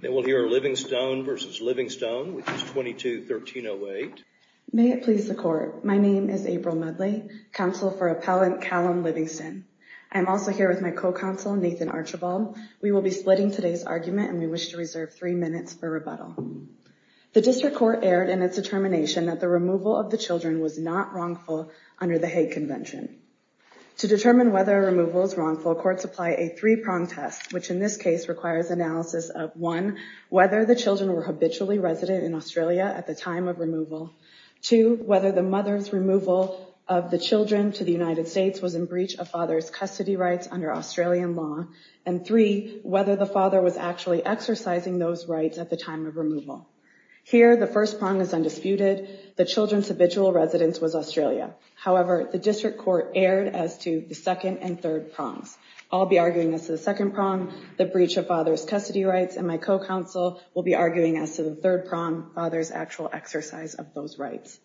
May it please the Court, my name is April Mudley, Counsel for Appellant Callum Livingston. I am also here with my co-counsel Nathan Archibald. We will be splitting today's argument and we wish to reserve three minutes for rebuttal. The District Court erred in its determination that the removal of the children was not wrongful under the Hague Convention. To determine whether a removal is wrongful, courts apply a three-prong test, which in analysis of, one, whether the children were habitually resident in Australia at the time of removal, two, whether the mother's removal of the children to the United States was in breach of father's custody rights under Australian law, and three, whether the father was actually exercising those rights at the time of removal. Here, the first prong is undisputed, the children's habitual residence was Australia. However, the District Court erred as to the second and third prongs. I'll be arguing as to the second prong, the breach of father's custody rights, and my co-counsel will be arguing as to the third prong, father's actual exercise of those rights.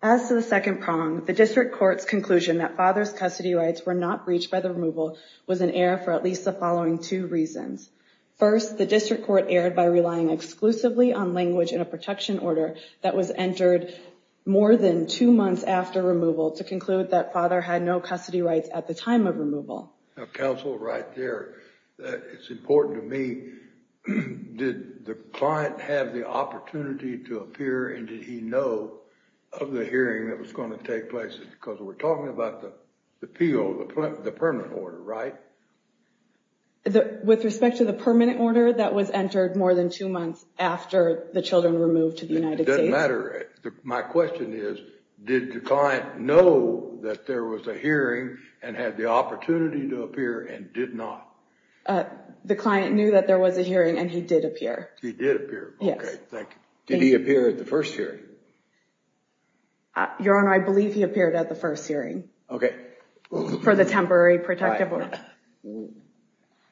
As to the second prong, the District Court's conclusion that father's custody rights were not breached by the removal was in error for at least the following two reasons. First, the District Court erred by relying exclusively on language in a protection order that was entered more than two months after removal to conclude that father had no custody rights at the time of removal. Counsel, right there, it's important to me, did the client have the opportunity to appear and did he know of the hearing that was going to take place? Because we're talking about the appeal, the permanent order, right? With respect to the permanent order that was entered more than two months after the children were moved to the United States? It doesn't matter. My question is, did the client know that there was a hearing and had the opportunity to appear and did not? The client knew that there was a hearing and he did appear. He did appear. Yes. Okay, thank you. Did he appear at the first hearing? Your Honor, I believe he appeared at the first hearing. Okay. For the temporary protective order.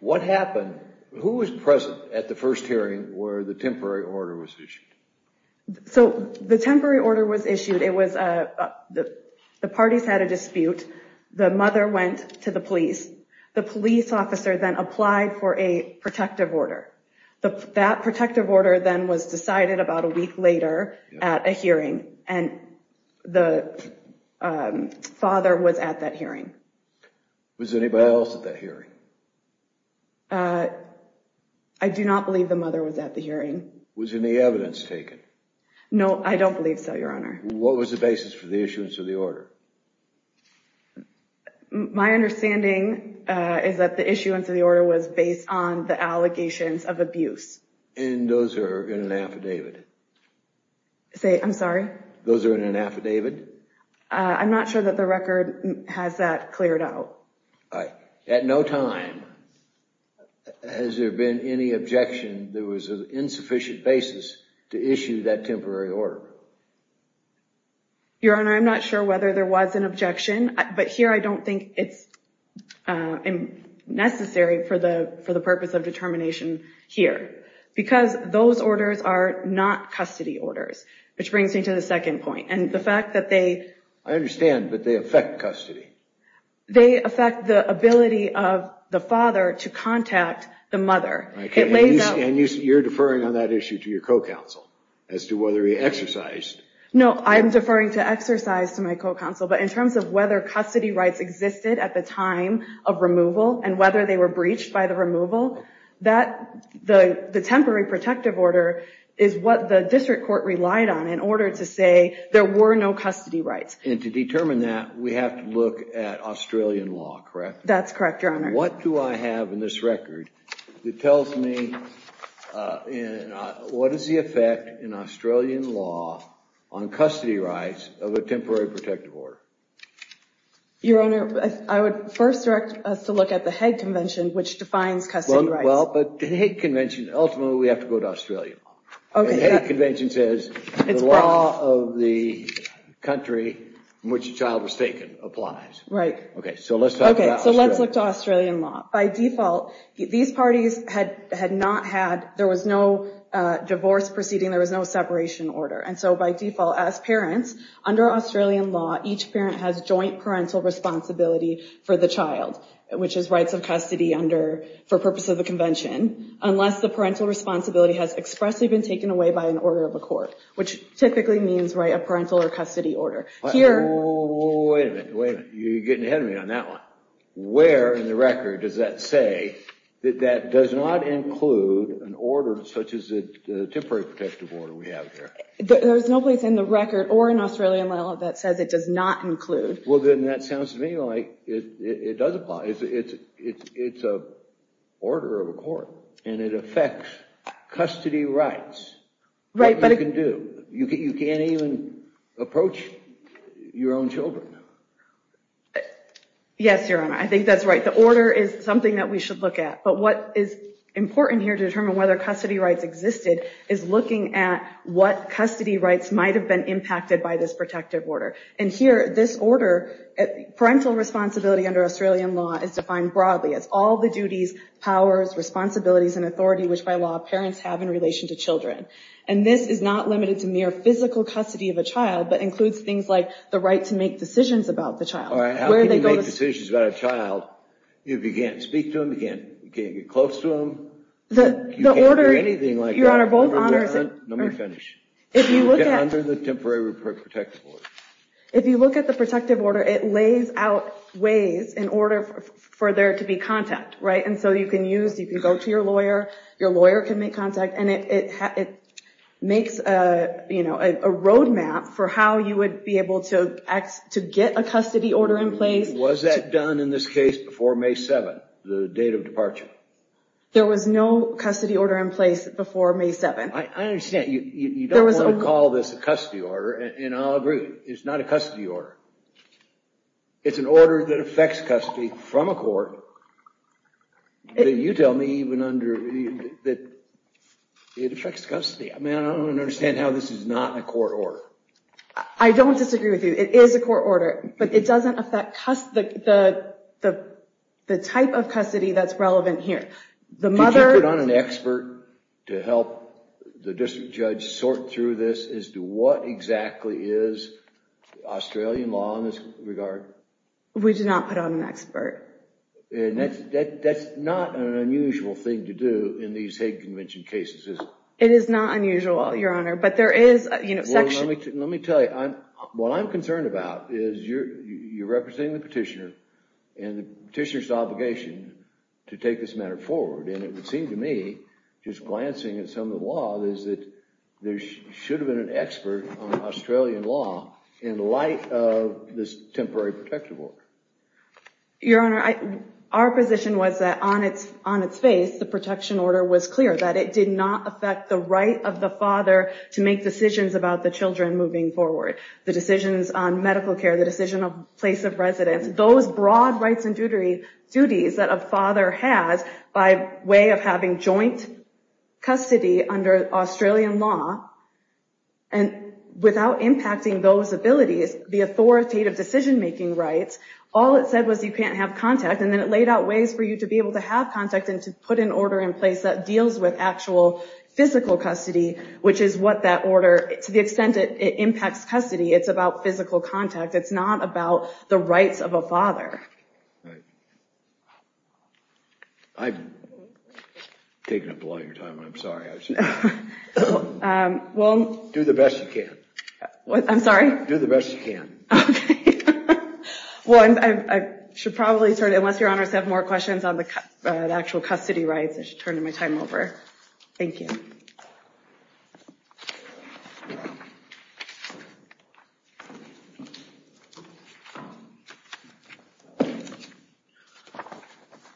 What happened, who was present at the first hearing where the temporary order was issued? So, the temporary order was issued, the parties had a dispute, the mother went to the police, the police officer then applied for a protective order. That protective order then was decided about a week later at a hearing and the father was at that hearing. Was anybody else at that hearing? I do not believe the mother was at the hearing. Was any evidence taken? No, I don't believe so, Your Honor. What was the basis for the issuance of the order? My understanding is that the issuance of the order was based on the allegations of abuse. And those are in an affidavit? Say, I'm sorry? Those are in an affidavit? I'm not sure that the record has that cleared out. At no time has there been any objection there was an insufficient basis to issue that temporary order. Your Honor, I'm not sure whether there was an objection, but here I don't think it's necessary for the purpose of determination here. Because those orders are not custody orders, which brings me to the second point. And the fact that they... I understand, but they affect custody. They affect the ability of the father to contact the mother. And you're deferring on that issue to your co-counsel as to whether he exercised? No, I'm deferring to exercise to my co-counsel, but in terms of whether custody rights existed at the time of removal and whether they were breached by the removal, the temporary protective order is what the district court relied on in order to say there were no custody rights. And to determine that, we have to look at Australian law, correct? That's correct, Your Honor. What do I have in this record that tells me what is the effect in Australian law on custody rights of a temporary protective order? Your Honor, I would first direct us to look at the Hague Convention, which defines custody rights. Well, but the Hague Convention, ultimately we have to go to Australian law. The Hague Convention says the law of the country in which the child was taken applies. Right. Okay, so let's talk about Australia. Okay, so let's look to Australian law. By default, these parties had not had... There was no divorce proceeding, there was no separation order. And so by default, as parents, under Australian law, each parent has joint parental responsibility for the child, which is rights of custody for purpose of the convention, unless the child is taken away by an order of a court, which typically means a parental or custody order. Here... Wait a minute, you're getting ahead of me on that one. Where in the record does that say that that does not include an order such as the temporary protective order we have here? There's no place in the record or in Australian law that says it does not include. Well, then that sounds to me like it does apply. It's an order of a court, and it affects custody rights, what you can do. You can't even approach your own children. Yes, Your Honor, I think that's right. The order is something that we should look at. But what is important here to determine whether custody rights existed is looking at what custody rights might have been impacted by this protective order. And here, this order, parental responsibility under Australian law is defined broadly as all the duties, powers, responsibilities, and authority which, by law, parents have in relation to children. And this is not limited to mere physical custody of a child, but includes things like the right to make decisions about the child. All right. How can you make decisions about a child if you can't speak to them, you can't get close to them, you can't do anything like that? Your Honor, both honors... Let me finish. If you look at... Under the temporary protective order. If you look at the protective order, it lays out ways in order for there to be contact, right? And so you can use, you can go to your lawyer, your lawyer can make contact, and it makes a roadmap for how you would be able to get a custody order in place. Was that done in this case before May 7th, the date of departure? There was no custody order in place before May 7th. I understand. You don't want to call this a custody order, and I'll agree, it's not a custody order. It's an order that affects custody from a court, that you tell me even under... It affects custody. I mean, I don't understand how this is not a court order. I don't disagree with you. It is a court order, but it doesn't affect the type of custody that's relevant here. Did you put on an expert to help the district judge sort through this as to what exactly is Australian law in this regard? We did not put on an expert. That's not an unusual thing to do in these hate convention cases, is it? It is not unusual, Your Honor, but there is a section... Let me tell you, what I'm concerned about is you're representing the petitioner, and you're trying to take this matter forward, and it would seem to me, just glancing at some of the law, is that there should have been an expert on Australian law in light of this temporary protective order. Your Honor, our position was that on its face, the protection order was clear, that it did not affect the right of the father to make decisions about the children moving forward. The decisions on medical care, the decision of place of residence, those broad rights and duties that a father has by way of having joint custody under Australian law, and without impacting those abilities, the authoritative decision-making rights, all it said was you can't have contact, and then it laid out ways for you to be able to have contact and to put an order in place that deals with actual physical custody, which is what that order, to the extent it impacts custody, it's about physical contact. It's not about the rights of a father. I've taken up a lot of your time, and I'm sorry. I was just going to say that. Do the best you can. I'm sorry? Do the best you can. Well, I should probably turn it, unless Your Honors have more questions on the actual custody rights, I should turn my time over. Thank you. Thank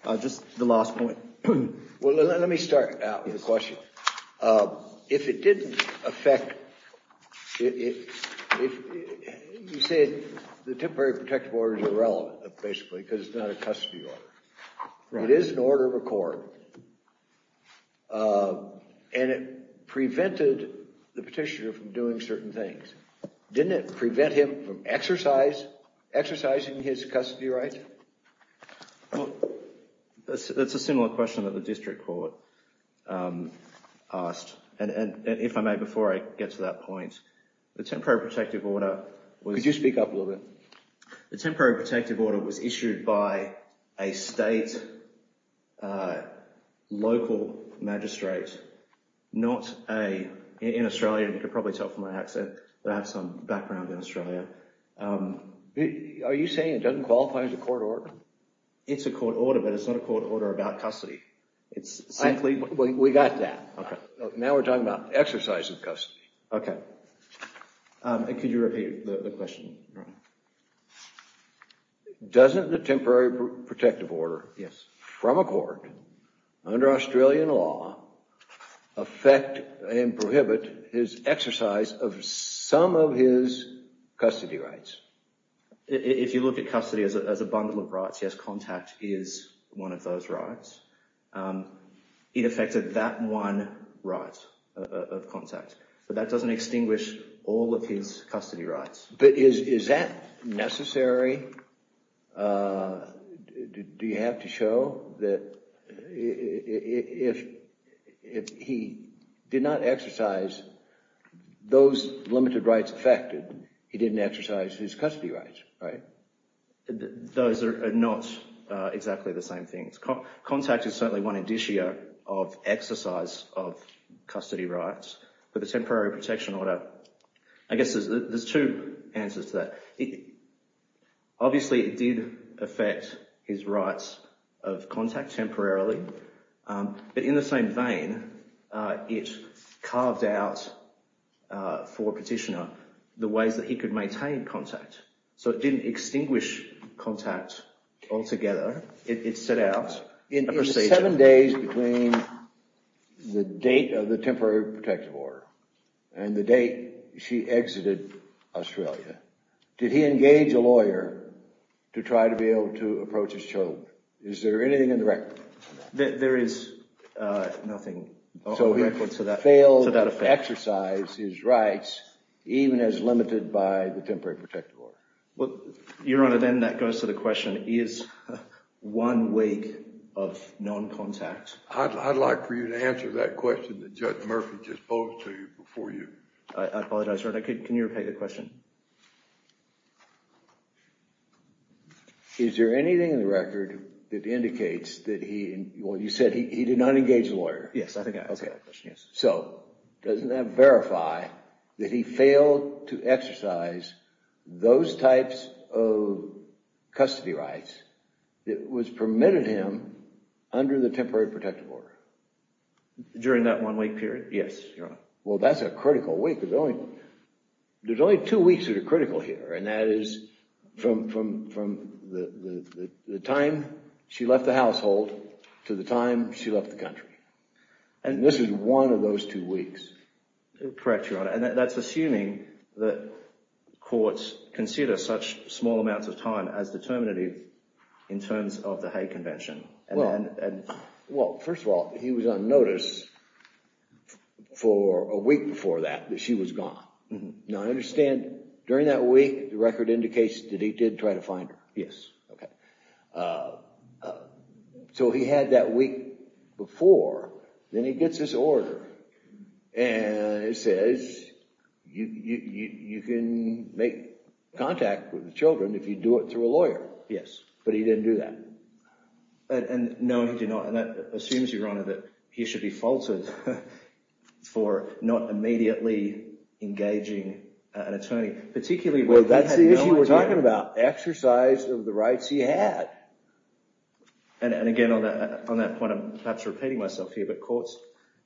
you. Just the last point. Well, let me start out with a question. If it didn't affect, if you say the temporary protective order is irrelevant, basically, because it's not a custody order, it is an order of a court, and it prevented the petitioner from doing certain things. Didn't it prevent him from exercising his custody rights? That's a similar question that the district court asked. And if I may, before I get to that point, the temporary protective order was... Could you speak up a little bit? The temporary protective order was issued by a state, local magistrate, not a... background in Australia. Are you saying it doesn't qualify as a court order? It's a court order, but it's not a court order about custody. It's simply... We got that. Now we're talking about exercise of custody. Okay. Could you repeat the question, Brian? Doesn't the temporary protective order from a court, under Australian law, affect and prohibit his exercise of some of his custody rights? If you look at custody as a bundle of rights, yes, contact is one of those rights. It affected that one right of contact. But that doesn't extinguish all of his custody rights. But is that necessary? Do you have to show that if he did not exercise those limited rights affected, he didn't exercise his custody rights, right? Those are not exactly the same things. Contact is certainly one indicia of exercise of custody rights. But the temporary protection order, I guess there's two answers to that. Obviously, it did affect his rights of contact temporarily. But in the same vein, it carved out for a petitioner the ways that he could maintain contact. So it didn't extinguish contact altogether. It set out a procedure. In the seven days between the date of the temporary protective order and the date she exited Australia, did he engage a lawyer to try to be able to approach his children? Is there anything in the record? There is nothing in the record to that effect. So he failed to exercise his rights, even as limited by the temporary protective order. Well, Your Honor, then that goes to the question, is one way of non-contact? I'd like for you to answer that question that Judge Murphy just posed to you before you. I apologize, Your Honor. Can you repeat the question? Is there anything in the record that indicates that he, well, you said he did not engage a lawyer? Yes, I think I answered that question, yes. So, doesn't that verify that he failed to exercise those types of custody rights that was permitted him under the temporary protective order? During that one-week period? Yes, Your Honor. Well, that's a critical week. There's only two weeks that are critical here, and that is from the time she left the household to the time she left the country. And this is one of those two weeks. Correct, Your Honor. And that's assuming that courts consider such small amounts of time as determinative in terms of the Hague Convention. Well, first of all, he was on notice for a week before that, that she was gone. Now, I understand during that week, the record indicates that he did try to find her. Yes. Okay. So, he had that week before, then he gets this order, and it says you can make contact with the children if you do it through a lawyer. Yes. But he didn't do that. And no, he did not. And that assumes, Your Honor, that he should be faulted for not immediately engaging an attorney, particularly when he had no idea. Well, that's the issue we're talking about, exercise of the rights he had. And again, on that point, I'm perhaps repeating myself here, but courts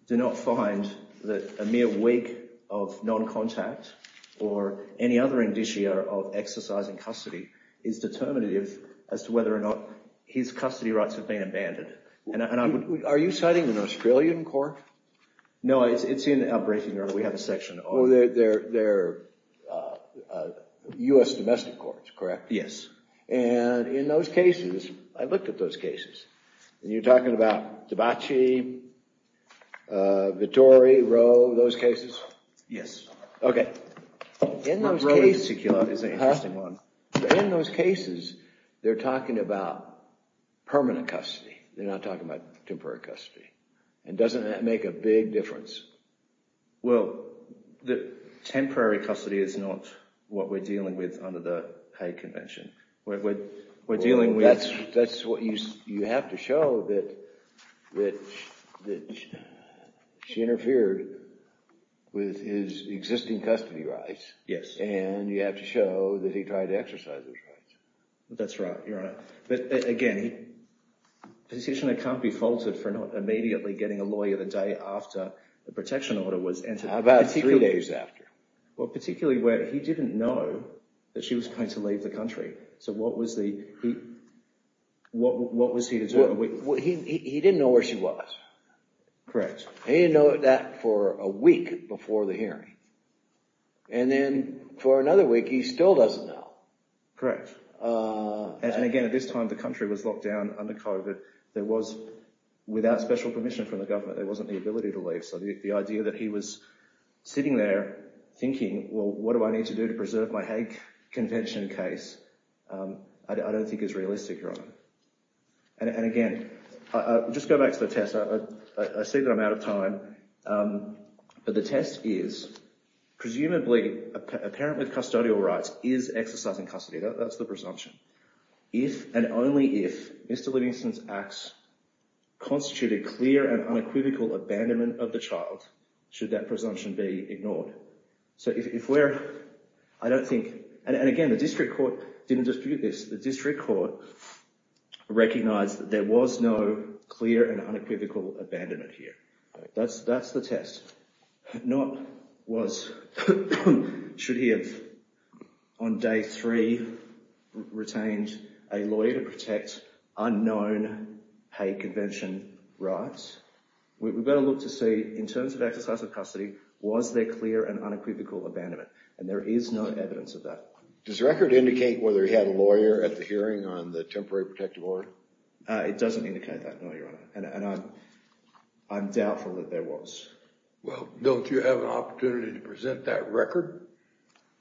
do not find that a mere week of non-contact or any other indicia of exercising custody is determinative as to his custody rights of being abandoned. Are you citing an Australian court? No, it's in the outbreak, Your Honor. We have a section on it. Well, they're U.S. domestic courts, correct? Yes. And in those cases, I looked at those cases, and you're talking about DeBacci, Vittori, Roe, those cases? Yes. Okay. In those cases, they're talking about permanent custody. They're not talking about temporary custody. And doesn't that make a big difference? Well, the temporary custody is not what we're dealing with under the Hague Convention. Well, that's what you have to show, that she interfered with his existing custody rights. Yes. And you have to show that he tried to exercise those rights. That's right, Your Honor. But again, a petitioner can't be faulted for not immediately getting a lawyer the day after the protection order was entered. How about three days after? Well, particularly where he didn't know that she was going to leave the country. So what was he to do? He didn't know where she was. Correct. He didn't know that for a week before the hearing. And then for another week, he still doesn't know. Correct. And again, at this time, the country was locked down under COVID. There was, without special permission from the government, there wasn't the ability to leave. The idea that he was sitting there thinking, well, what do I need to do to preserve my Hague Convention case, I don't think is realistic, Your Honor. And again, I'll just go back to the test. I see that I'm out of time. But the test is, presumably, a parent with custodial rights is exercising custody. That's the presumption. If, and only if, Mr Livingston's acts constitute a clear and unequivocal abandonment of the child, should that presumption be ignored. So if we're, I don't think, and again, the district court didn't dispute this. The district court recognised that there was no clear and unequivocal abandonment here. That's the test. Not was, should he have, on day three, retained a lawyer to protect unknown Hague Convention rights. We've got to look to see, in terms of exercise of custody, was there clear and unequivocal abandonment? And there is no evidence of that. Does the record indicate whether he had a lawyer at the hearing on the temporary protective order? It doesn't indicate that, no, Your Honor. And I'm doubtful that there was. Don't you have an opportunity to present that record?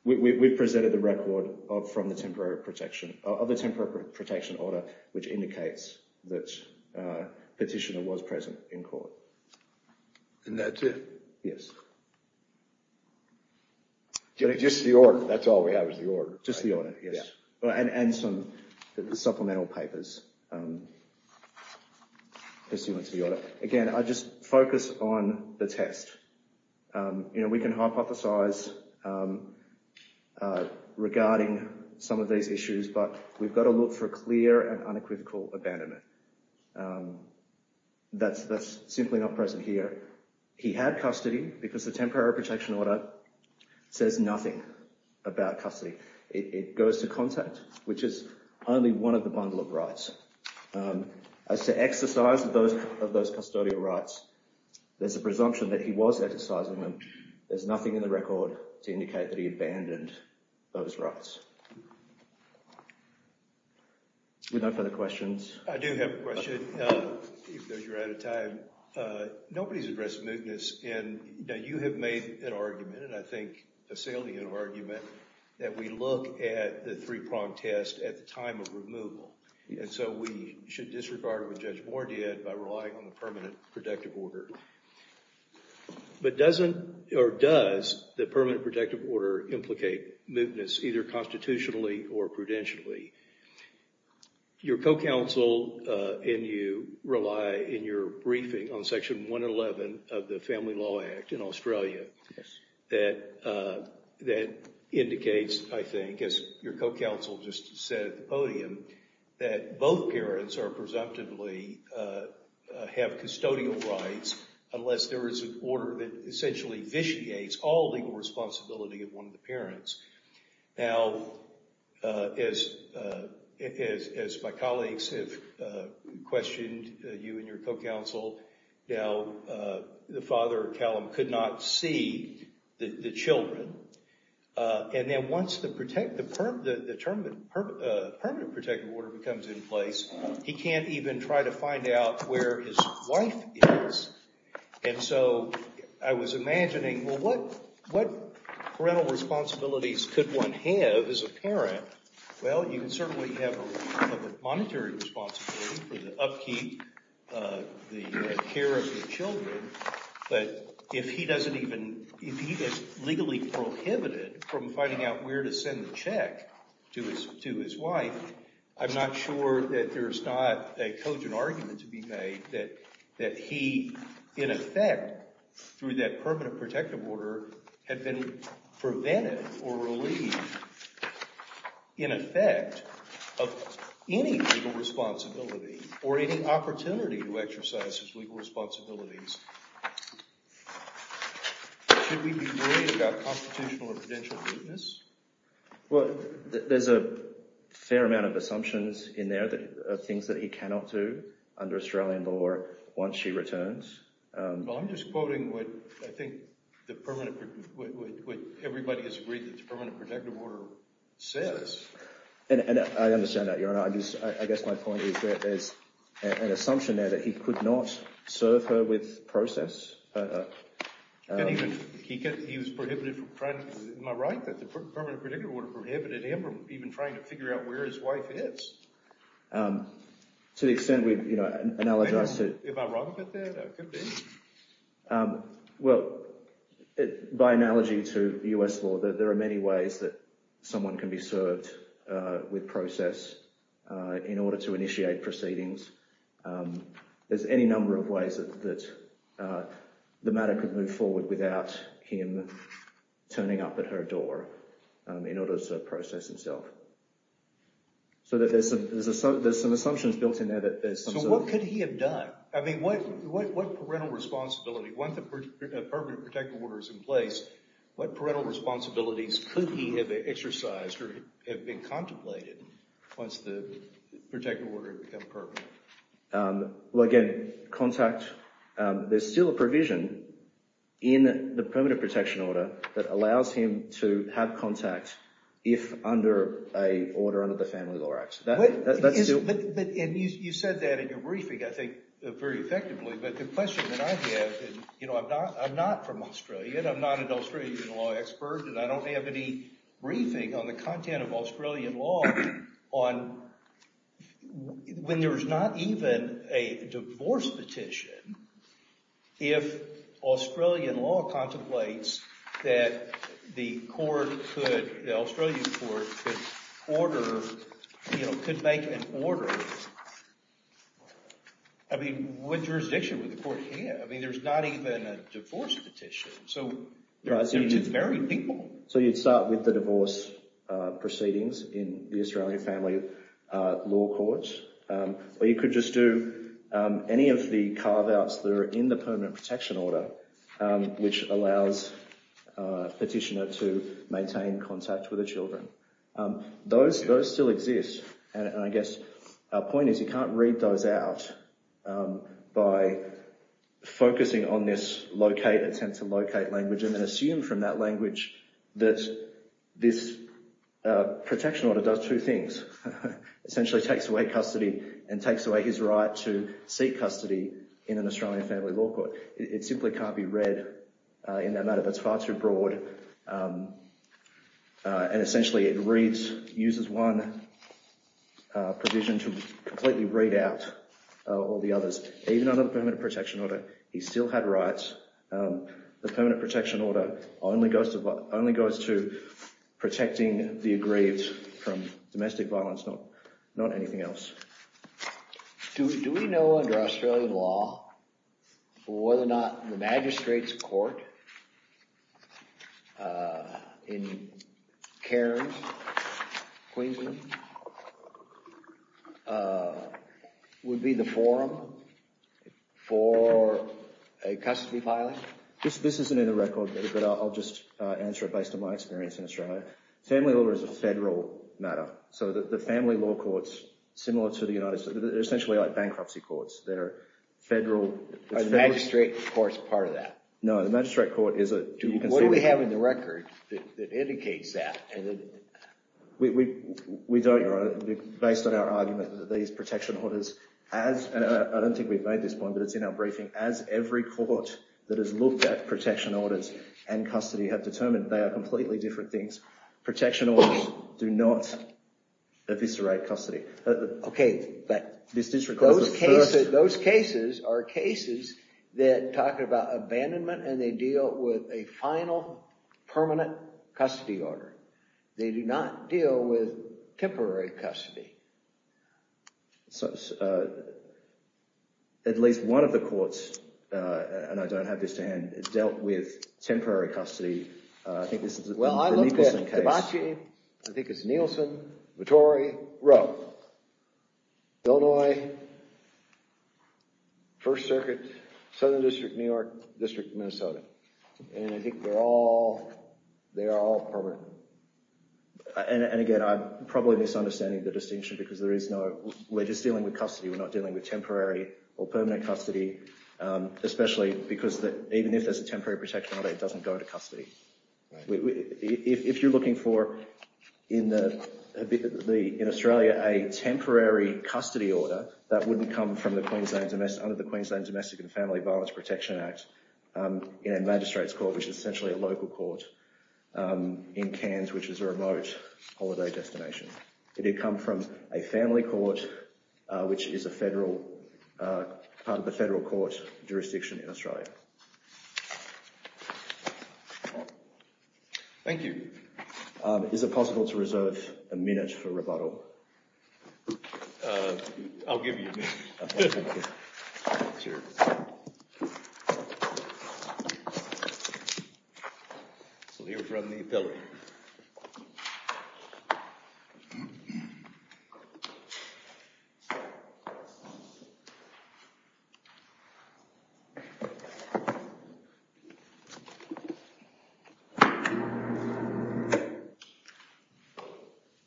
We've presented the record from the temporary protection, of the temporary protection order, which indicates that Petitioner was present in court. And that's it? Yes. Just the order? That's all we have is the order. Just the order, yes. And some supplemental papers pursuant to the order. Again, I just focus on the test. We can hypothesize regarding some of these issues, but we've got to look for clear and unequivocal abandonment. That's simply not present here. He had custody because the temporary protection order says nothing about custody. It goes to contact, which is only one of the bundle of rights. As to exercise of those custodial rights, there's a presumption that he was exercising them. There's nothing in the record to indicate that he abandoned those rights. With no further questions. I do have a question, because you're out of time. Nobody's addressed mootness. And you have made an argument, and I think a salient argument, and so we should disregard what Judge Moore did by relying on the permanent protective order. But doesn't, or does, the permanent protective order implicate mootness, either constitutionally or prudentially? Your co-counsel and you rely in your briefing on section 111 of the Family Law Act in Australia that indicates, I think, that both parents are presumptively have custodial rights unless there is an order that essentially vitiates all legal responsibility of one of the parents. Now, as my colleagues have questioned, you and your co-counsel, now the father, Callum, could not see the children. And then once the permanent protective order becomes in place, he can't even try to find out where his wife is. And so I was imagining, well, what parental responsibilities could one have as a parent? Well, you can certainly have a monetary responsibility for the upkeep, the care of the children. But if he doesn't even, if he is legally prohibited from finding out where to send the check to his wife, I'm not sure that there's not a cogent argument to be made that he, in effect, through that permanent protective order, had been prevented or relieved, in effect, of any legal responsibility or any opportunity to exercise his legal responsibilities. Should we be worried about constitutional or prudential weakness? Well, there's a fair amount of assumptions in there of things that he cannot do under Australian law once she returns. Well, I'm just quoting what I think the permanent, what everybody has agreed that the permanent protective order says. And I understand that, Your Honour. I guess my point is that there's an assumption there that he could not serve her with process. He was prohibited from trying to, am I right, that the permanent protective order prohibited him from even trying to figure out where his wife is? To the extent we've, you know, analogized to... Am I wrong about that? Well, by analogy to US law, there are many ways that someone can be served with process in order to initiate proceedings. There's any number of ways that the matter could move forward without him turning up at her door in order to process himself. So there's some assumptions built in there that there's... So what could he have done? I mean, what parental responsibility, once the permanent protective order is in place, what parental responsibilities could he have exercised or have been contemplated once the protective order had become permanent? Well, again, contact. There's still a provision in the permanent protection order that allows him to have contact if under a order under the Family Law Act. But you said that in your briefing, I think, very effectively. But the question that I have is, you know, I'm not from Australia, and I'm not an Australian law expert, and I don't have any briefing on the content of Australian law on when there's not even a divorce petition, if Australian law contemplates that the court could, the Australian court, order, you know, could make an order. I mean, what jurisdiction would the court have? I mean, there's not even a divorce petition. So you'd have to marry people. So you'd start with the divorce proceedings in the Australian Family Law Court. Or you could just do any of the carve-outs that are in the permanent protection order, which allows a petitioner to maintain contact with the children. Those still exist. And I guess our point is you can't read those out by focusing on this locate, attempt to locate language, and then assume from that language that this protection order does two things. Essentially takes away custody and takes away his right to seek custody in an Australian Family Law Court. It simply can't be read in that matter. That's far too broad. And essentially it reads, uses one provision to completely read out all the others. Even under the permanent protection order, he still had rights. The permanent protection order only goes to protecting the aggrieved from domestic violence, not anything else. Do we know under Australian law in Cairns, Queensland, would be the forum for a custody filing? This isn't in the record, but I'll just answer it based on my experience in Australia. Family law is a federal matter. So the family law courts, similar to the United States, they're essentially like bankruptcy courts. They're federal. Are the magistrate courts part of that? No, the magistrate court is a dual-conceded. What do we have in the record that indicates that? We don't, Your Honor, based on our argument, these protection orders, I don't think we've made this point, but it's in our briefing, as every court that has looked at protection orders and custody have determined they are completely different things. Protection orders do not eviscerate custody. Okay, but those cases are cases that talk about abandonment and they deal with a final permanent custody order. They do not deal with temporary custody. So at least one of the courts, and I don't have this to hand, dealt with temporary custody. I think this is the Nicholson case. Well, I looked at DeBacci, I think it's Nicholson, Vittori, Rowe, Illinois, First Circuit, Southern District, New York, District of Minnesota, and I think they're all permanent. And again, I'm probably misunderstanding the distinction because we're just dealing with custody, we're not dealing with temporary or permanent custody, especially because even if there's a temporary protection order, it doesn't go to custody. If you're looking for, in Australia, a temporary custody order, that wouldn't come under the Queensland Domestic and Family Violence Protection Act in a magistrate's court, which is essentially a local court in Cairns, which is a remote holiday destination. It'd come from a family court, which is a federal, part of the federal court jurisdiction in Australia. Thank you. Is it possible to reserve a minute for rebuttal? I'll give you a minute. Okay, thank you. Cheers. So we'll hear from the appellate.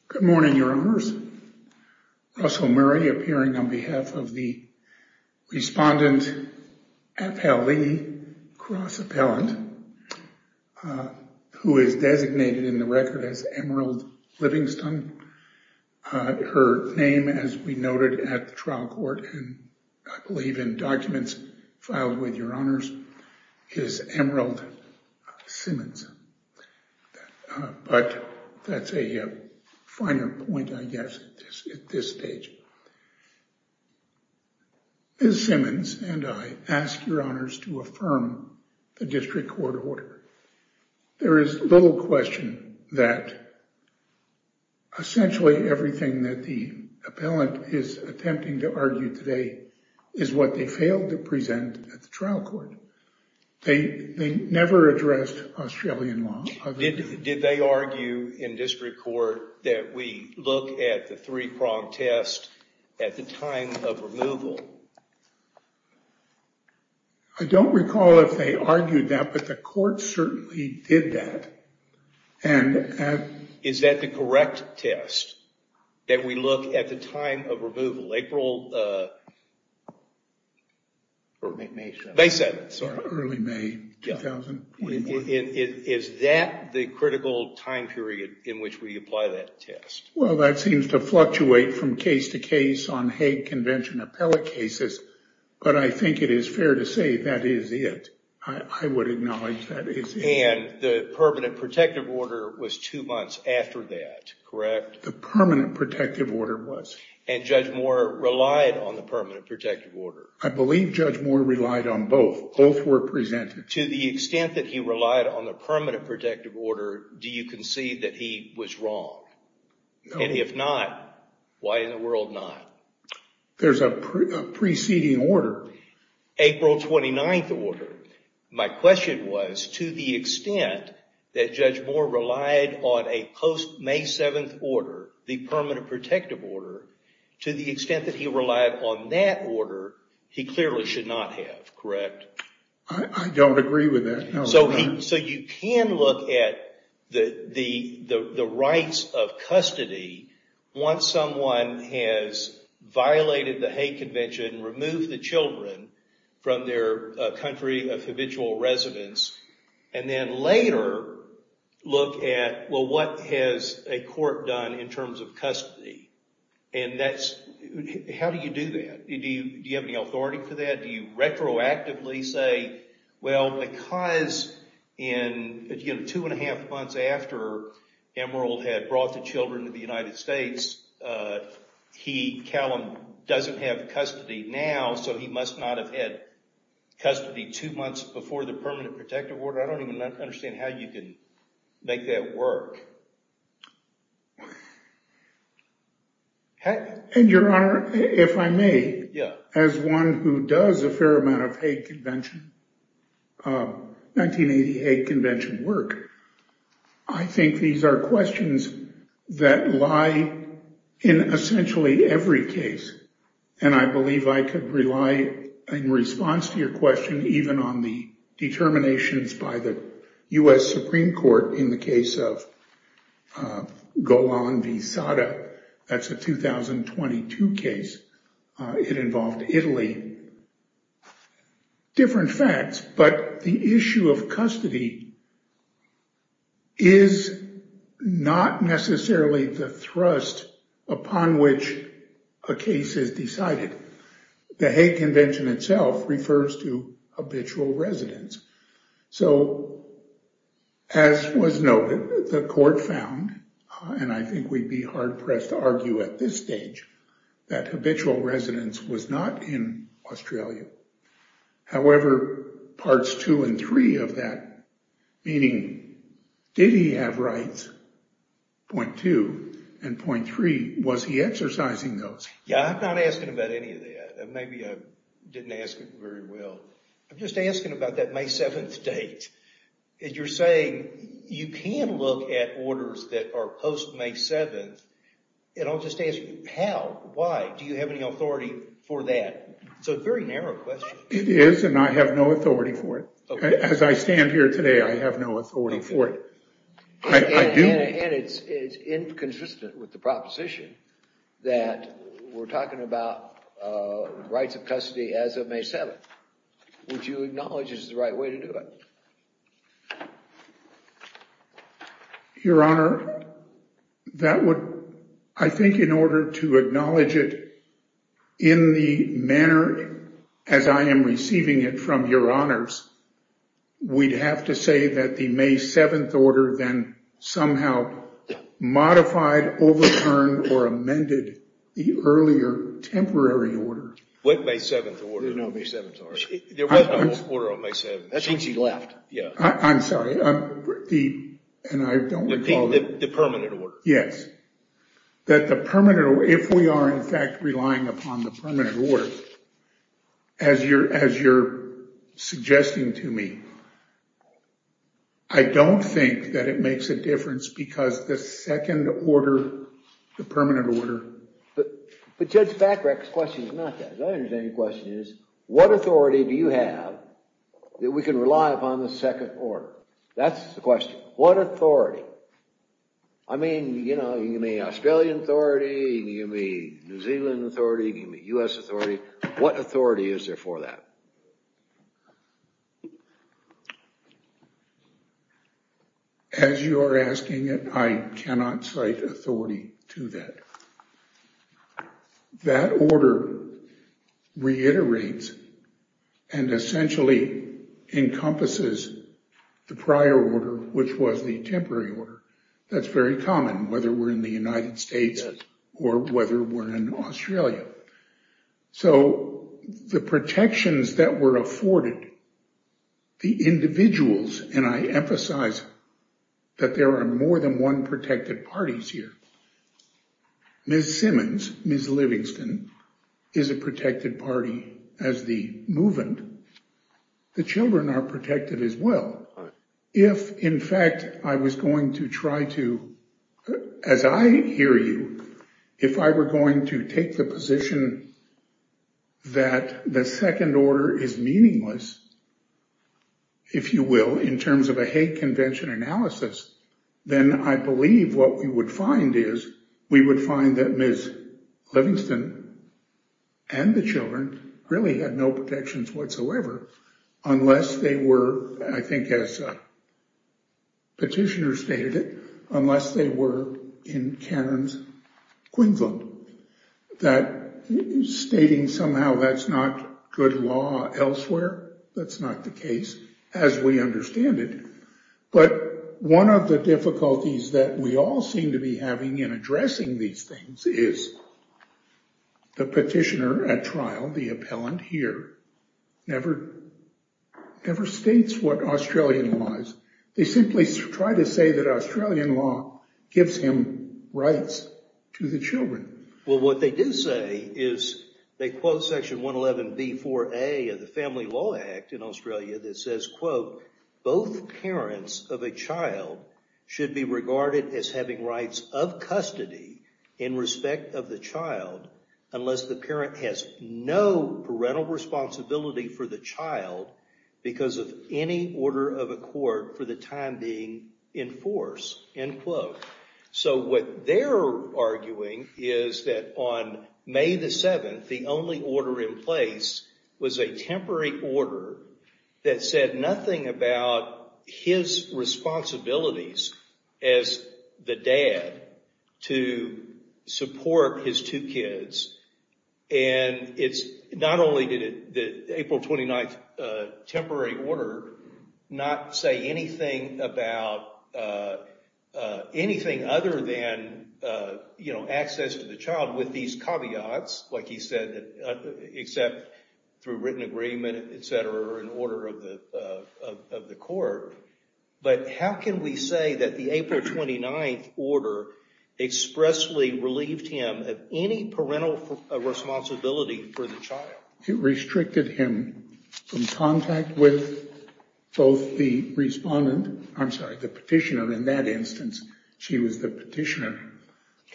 Good morning, Your Honours. Russell Murray, appearing on behalf of the Respondent Appellee Cross Appellant, who is designated in the record as Emerald Livingston. Her name, as we noted at the trial court, and I believe in documents filed with Your Honours, is Emerald Simmons. But that's a finer point, I guess, at this stage. Ms. Simmons and I ask Your Honours to affirm the district court order. There is little question that essentially everything that the appellant is attempting to argue today is what they failed to present at the trial court. They never addressed Australian law. Did they argue in district court that we look at the three-prong test at the time of removal? I don't recall if they argued that, but the court certainly did that. Is that the correct test? That we look at the time of removal, April... May 7th, sorry. Early May 2020. Is that the critical time period in which we apply that test? Well, that seems to fluctuate from case to case on Hague Convention appellate cases, but I think it is fair to say that is it. I would acknowledge that is it. And the permanent protective order was two months after that, correct? The permanent protective order was. And Judge Moore relied on the permanent protective order. I believe Judge Moore relied on both. Both were presented. To the extent that he relied on the permanent protective order, do you concede that he was wrong? And if not, why in the world not? There's a preceding order. April 29th order. My question was, to the extent that Judge Moore relied on a post-May 7th order, the permanent protective order, to the extent that he relied on that order, he clearly should not have, correct? I don't agree with that. So you can look at the rights of custody once someone has violated the Hague Convention, removed the children from their country of habitual residence, and then later look at, well, what has a court done in terms of custody? How do you do that? Do you have any authority for that? Do you retroactively say, well, because two and a half months after Emerald had brought the children to the United States, Callum doesn't have custody now, so he must not have had custody two months before the permanent protective order. I don't even understand how you can make that work. And your honor, if I may, as one who does a fair amount of Hague Convention, of 1988 convention work, I think these are questions that lie in essentially every case. And I believe I could rely in response to your question even on the determinations by the U.S. Supreme Court in the case of Golan v. Sada. That's a 2022 case. It involved Italy. Different facts, but the issue of custody is not necessarily the thrust upon which a case is decided. The Hague Convention itself refers to habitual residence. So, as was noted, the court found, and I think we'd be hard-pressed to argue at this stage, that habitual residence was not in Australia. However, parts two and three of that, meaning, did he have rights, point two, and point three, was he exercising those? Yeah, I'm not asking about any of that. Maybe I didn't ask it very well. I'm just asking about that May 7th date. As you're saying, you can look at orders that are post-May 7th, and I'll just ask you, how? Why? Do you have any authority for that? It's a very narrow question. It is, and I have no authority for it. As I stand here today, I have no authority for it. And it's inconsistent with the proposition that we're talking about rights of custody as of May 7th. Would you acknowledge this is the right way to do it? Your Honor, I think in order to acknowledge it in the manner as I am receiving it from your honors, we'd have to say that the May 7th order then somehow modified, overturned, or amended the earlier temporary order. What May 7th order? There was no May 7th order. There was no order on May 7th. That's when she left. I'm sorry. And I don't recall the permanent order. Yes. If we are, in fact, relying upon the permanent order, as you're suggesting to me, I don't think that it makes a difference because the second order, the permanent order... But Judge Bacarek's question is not that. My understanding of the question is, what authority do you have that we can rely upon the second order? That's the question. What authority? I mean, you know, you can give me Australian authority, you can give me New Zealand authority, you can give me U.S. authority. What authority is there for that? As you are asking it, I cannot cite authority to that. But that order reiterates and essentially encompasses the prior order, which was the temporary order. That's very common, whether we're in the United States or whether we're in Australia. So the protections that were afforded, the individuals, and I emphasize that there are more than one protected parties here, Ms. Simmons, Ms. Livingston is a protected party as the movement. The children are protected as well. If, in fact, I was going to try to, as I hear you, if I were going to take the position that the second order is meaningless, if you will, in terms of a Hague Convention analysis, then I believe what we would find is we would find that Ms. Livingston and the children really had no protections whatsoever unless they were, I think as a petitioner stated it, unless they were in Cairns, Queensland. That stating somehow that's not good law elsewhere, that's not the case as we understand it. But one of the difficulties that we all seem to be having in addressing these things is the petitioner at trial, the appellant here, never states what Australian law is. They simply try to say that Australian law gives him rights to the children. Well, what they do say is they quote section 111b4a of the Family Law Act in Australia that says, both parents of a child should be regarded as having rights of custody in respect of the child unless the parent has no parental responsibility for the child because of any order of accord for the time being in force, end quote. So what they're arguing is that on May the 7th, the only order in place was a temporary order that said nothing about his responsibilities as the dad to support his two kids. And it's not only did the April 29th temporary order not say anything about anything other than, you know, access to the child with these caveats like he said, except through written agreement, et cetera, in order of the court. But how can we say that the April 29th order expressly relieved him of any parental responsibility for the child? It restricted him from contact with both the respondent, I'm sorry, the petitioner. In that instance, she was the petitioner.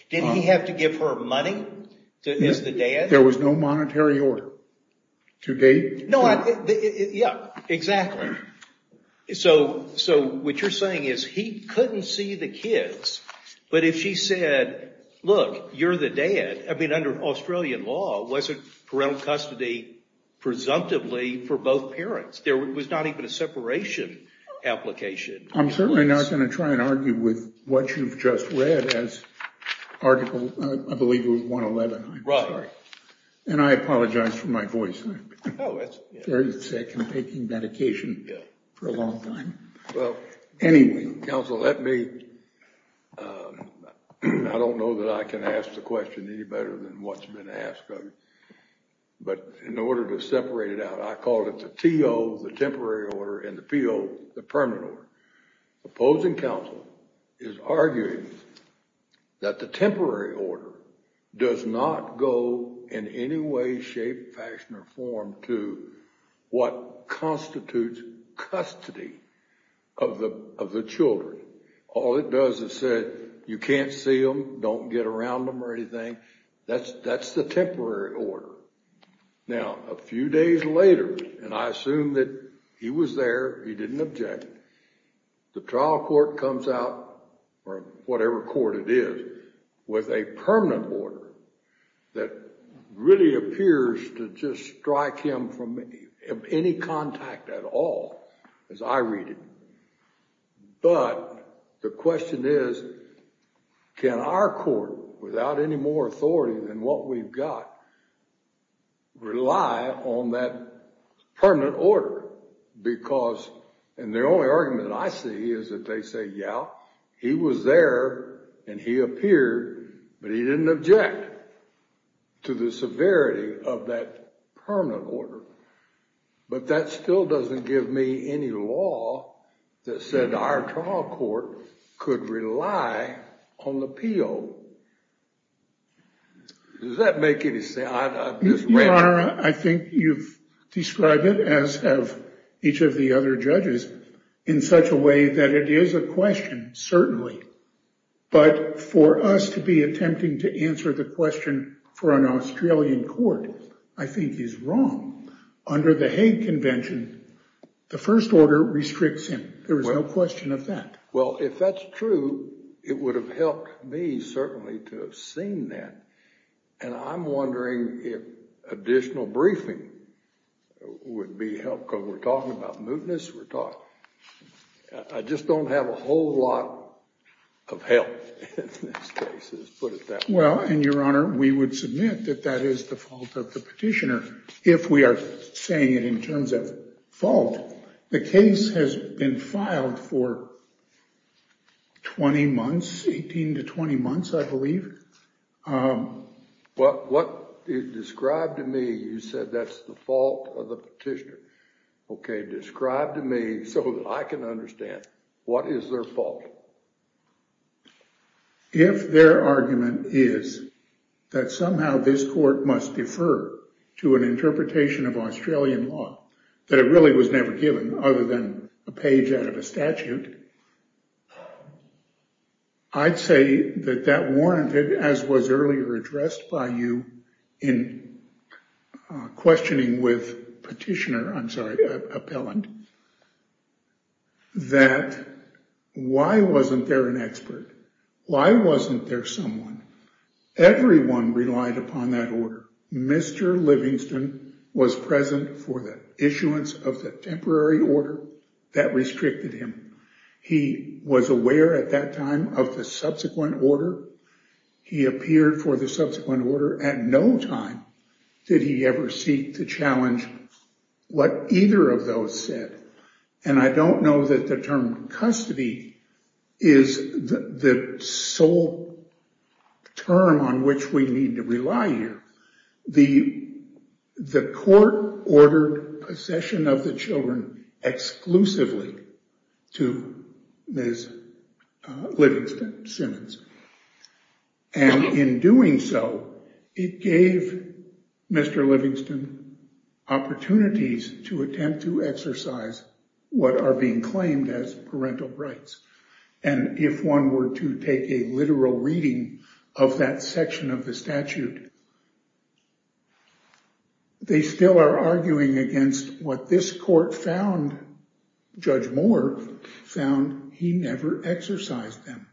Did he have to give her money as the dad? There was no monetary order to date. No, yeah, exactly. So what you're saying is he couldn't see the kids, but if she said, look, you're the dad, I mean, under Australian law, wasn't parental custody presumptively for both parents? There was not even a separation application. I'm certainly not going to try and argue with what you've just read as article, I believe it was 111, I'm sorry. And I apologize for my voice. I've been very sick and taking medication for a long time. Well, anyway, counsel, let me, I don't know that I can ask the question any better than what's been asked of you. But in order to separate it out, I called it the T.O., the temporary order, and the P.O., the permanent order. Opposing counsel is arguing that the temporary order does not go in any way, shape, fashion, or form to what constitutes custody of the children. All it does is say, you can't see them, don't get around them or anything. That's the temporary order. Now, a few days later, and I assume that he was there, he didn't object, the trial court comes out, or whatever court it is, with a permanent order that really appears to just strike him from any contact at all, as I read it. But the question is, can our court, without any more authority than what we've got, rely on that permanent order? Because, and the only argument that I see is that they say, yeah, he was there and he appeared, but he didn't object to the severity of that permanent order. But that still doesn't give me any law that said our trial court could rely on the P.O. Does that make any sense? I've just read it. I think you've described it, as have each of the other judges, in such a way that it is a question, certainly. But for us to be attempting to answer the question for an Australian court, I think is wrong. Under the Hague Convention, the first order restricts him. There is no question of that. Well, if that's true, it would have helped me, certainly, to have seen that. And I'm wondering if additional briefing would be helpful. We're talking about mootness. I just don't have a whole lot of help in this case, let's put it that way. Well, and Your Honor, we would submit that that is the fault of the petitioner. If we are saying it in terms of fault, the case has been filed for 20 months, 18 to 20 months, I believe. But what you described to me, you said that's the fault of the petitioner. OK, describe to me, so I can understand, what is their fault? If their argument is that somehow this court must defer to an interpretation of Australian law, that it really was never given, other than a page out of a statute, I'd say that that warranted, as was earlier addressed by you in questioning with petitioner, I'm sorry, appellant, that why wasn't there an expert? Why wasn't there someone? Everyone relied upon that order. Mr. Livingston was present for the issuance of the temporary order that restricted him. He was aware at that time of the subsequent order. He appeared for the subsequent order. At no time did he ever seek to challenge what either of those said. And I don't know that the term custody is the sole term on which we need to rely here. The court ordered possession of the children exclusively to Ms. Livingston Simmons. And in doing so, it gave Mr. Livingston opportunities to attempt to exercise what are being claimed as parental rights. And if one were to take a literal reading of that section of the statute, they still are arguing against what this court found, Judge Moore found, he never exercised them.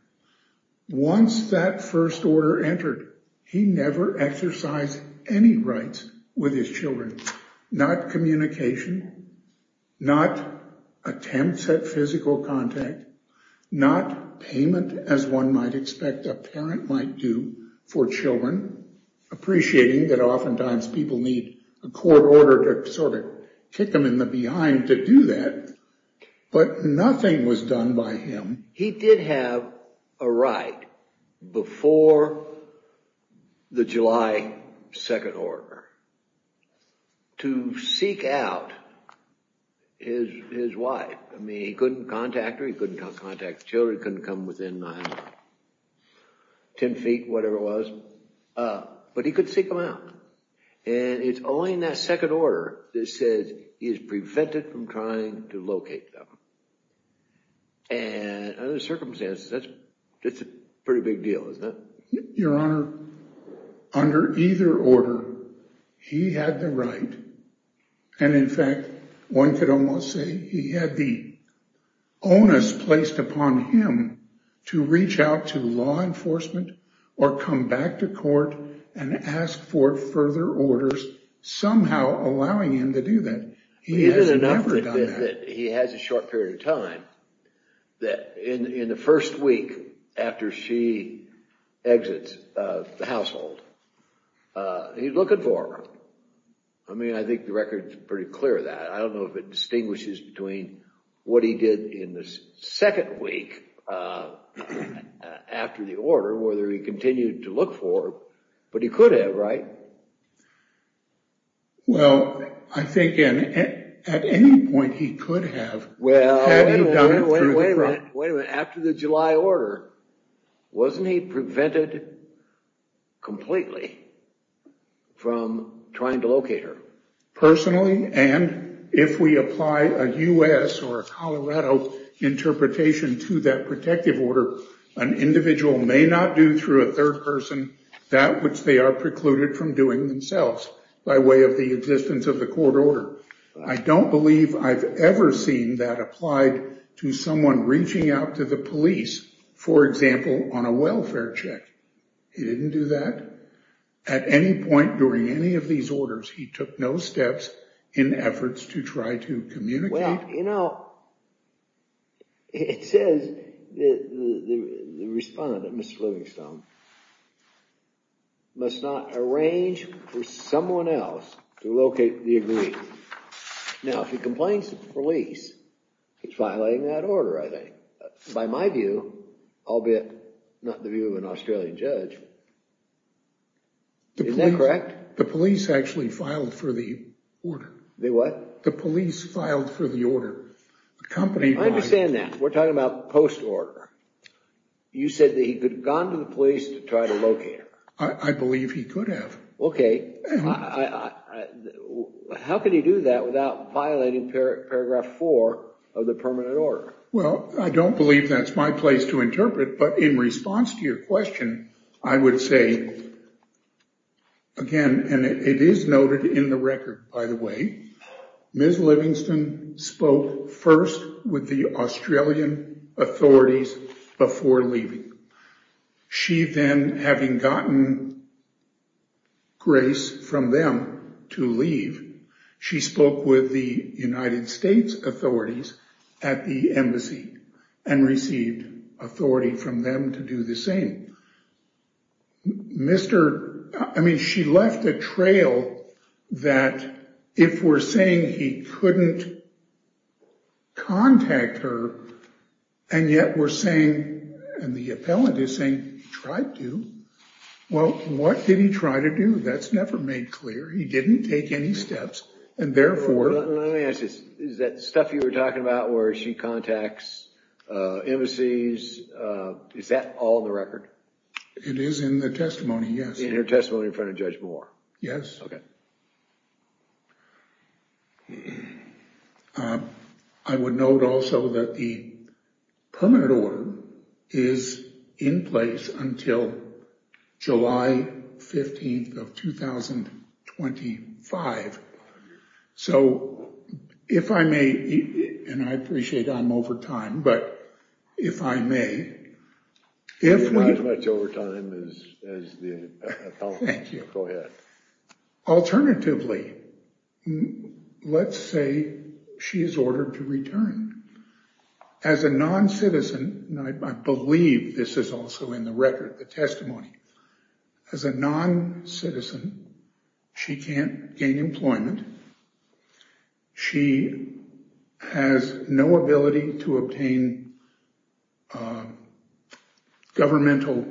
Once that first order entered, he never exercised any rights with his children, not communication, not attempts at physical contact, not payment as one might expect a parent might do for children, appreciating that oftentimes people need a court order to sort of kick them in the behind to do that. But nothing was done by him. He did have a right before the July 2nd order to seek out his wife. I mean, he couldn't contact her, he couldn't contact the children, couldn't come within 10 feet, whatever it was, but he could seek them out. And it's only in that second order that says he is prevented from trying to locate them. And under the circumstances, that's a pretty big deal, isn't it? Your Honor, under either order, he had the right. And in fact, one could almost say he had the onus placed upon him to reach out to law enforcement or come back to court and ask for further orders, somehow allowing him to do that. He has never done that. He has a short period of time that in the first week after she exits the household, he's looking for her. I mean, I think the record is pretty clear that. I don't know if it distinguishes between what he did in the second week after the order, whether he continued to look for her, but he could have, right? Well, I think at any point he could have. Well, wait a minute. After the July order, wasn't he prevented completely from trying to locate her? Personally, and if we apply a US or a Colorado interpretation to that protective order, an individual may not do through a third person that which they are precluded from doing themselves by way of the existence of the court order. I don't believe I've ever seen that applied to someone reaching out to the police, for example, on a welfare check. He didn't do that. At any point during any of these orders, he took no steps in efforts to try to communicate. Well, you know, it says the respondent, Mr. Livingstone, must not arrange for someone else to locate the agreed. Now, if he complains to the police, it's violating that order, I think. By my view, albeit not the view of an Australian judge. Is that correct? The police actually filed for the order. The what? The police filed for the order. I understand that. We're talking about post-order. You said that he could have gone to the police to try to locate her. I believe he could have. Okay. How could he do that without violating paragraph four of the permanent order? Well, I don't believe that's my place to interpret, but in response to your question, I would say, again, and it is noted in the record, by the way, Ms. Livingstone spoke first with the Australian authorities before leaving. She then, having gotten grace from them to leave, she spoke with the United States authorities at the embassy and received authority from them to do the same. Mr.... I mean, she left a trail that if we're saying he couldn't contact her and yet we're saying, and the appellant is saying he tried to, well, what did he try to do? That's never made clear. He didn't take any steps, and therefore... Let me ask this. Is that stuff you were talking about where she contacts embassies, is that all in the record? It is in the testimony, yes. In your testimony in front of Judge Moore? Yes. I would note also that the permanent order is in place until July 15th of 2025, so if I may, and I appreciate I'm over time, but if I may, if we- As the appellant. Thank you. Go ahead. Alternatively, let's say she is ordered to return. As a non-citizen, and I believe this is also in the record, the testimony, as a non-citizen, she can't gain employment. She has no ability to obtain a governmental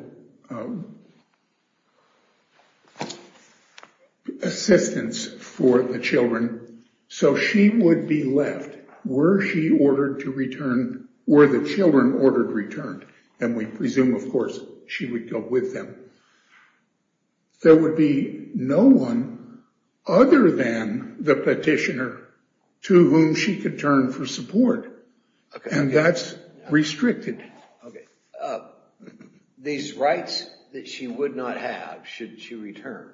assistance for the children, so she would be left where she ordered to return, where the children ordered returned, and we presume, of course, she would go with them. There would be no one other than the petitioner to whom she could turn for support, and that's restricted. These rights that she would not have should she return,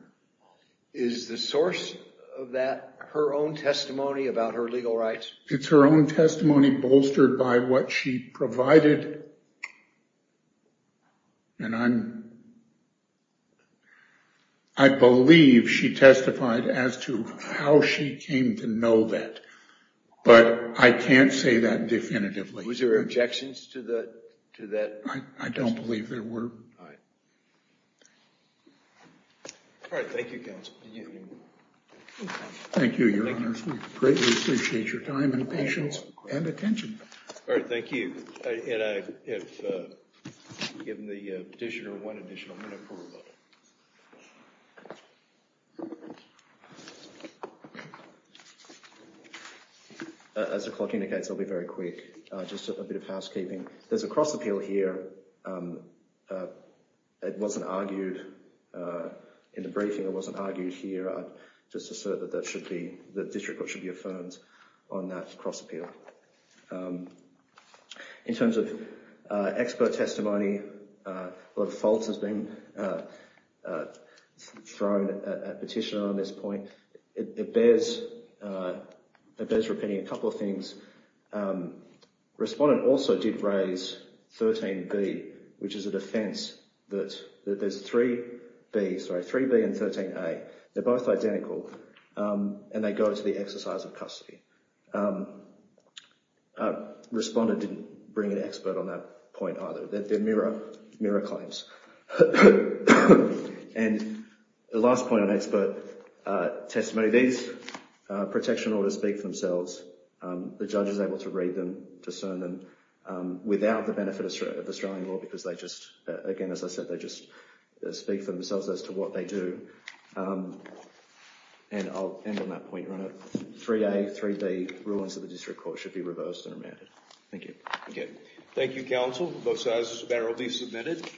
is the source of that her own testimony about her legal rights? It's her own testimony bolstered by what she provided, and I believe she testified as to how she came to know that, but I can't say that definitively. Was there objections to that? I don't believe there were. All right. Thank you, counsel. Thank you, your honors. We greatly appreciate your time and patience and attention. All right. Thank you, and I have given the petitioner one additional minute for rebuttal. As the clock indicates, I'll be very quick. Just a bit of housekeeping. There's a cross-appeal here. It wasn't argued in the briefing. It wasn't argued here. I'd just assert that that should be, the district court should be affirmed on that cross-appeal. In terms of expert testimony, a lot of faults has been thrown at petitioner on this point. It bears repeating a couple of things. Respondent also did raise 13B, which is a defense that there's three Bs, sorry, 3B and 13A. They're both identical, and they go to the exercise of custody. Respondent didn't bring an expert on that point either. They're mirror claims. And the last point on expert testimony, these protection orders speak for themselves. The judge is able to read them, discern them, without the benefit of Australian law because they just, again, as I said, they just speak for themselves as to what they do. And I'll end on that point, your honor. 3A, 3B, rulings of the district court should be reversed and remanded. Thank you. Okay. Thank you, counsel. Both sides, this is a matter will be submitted.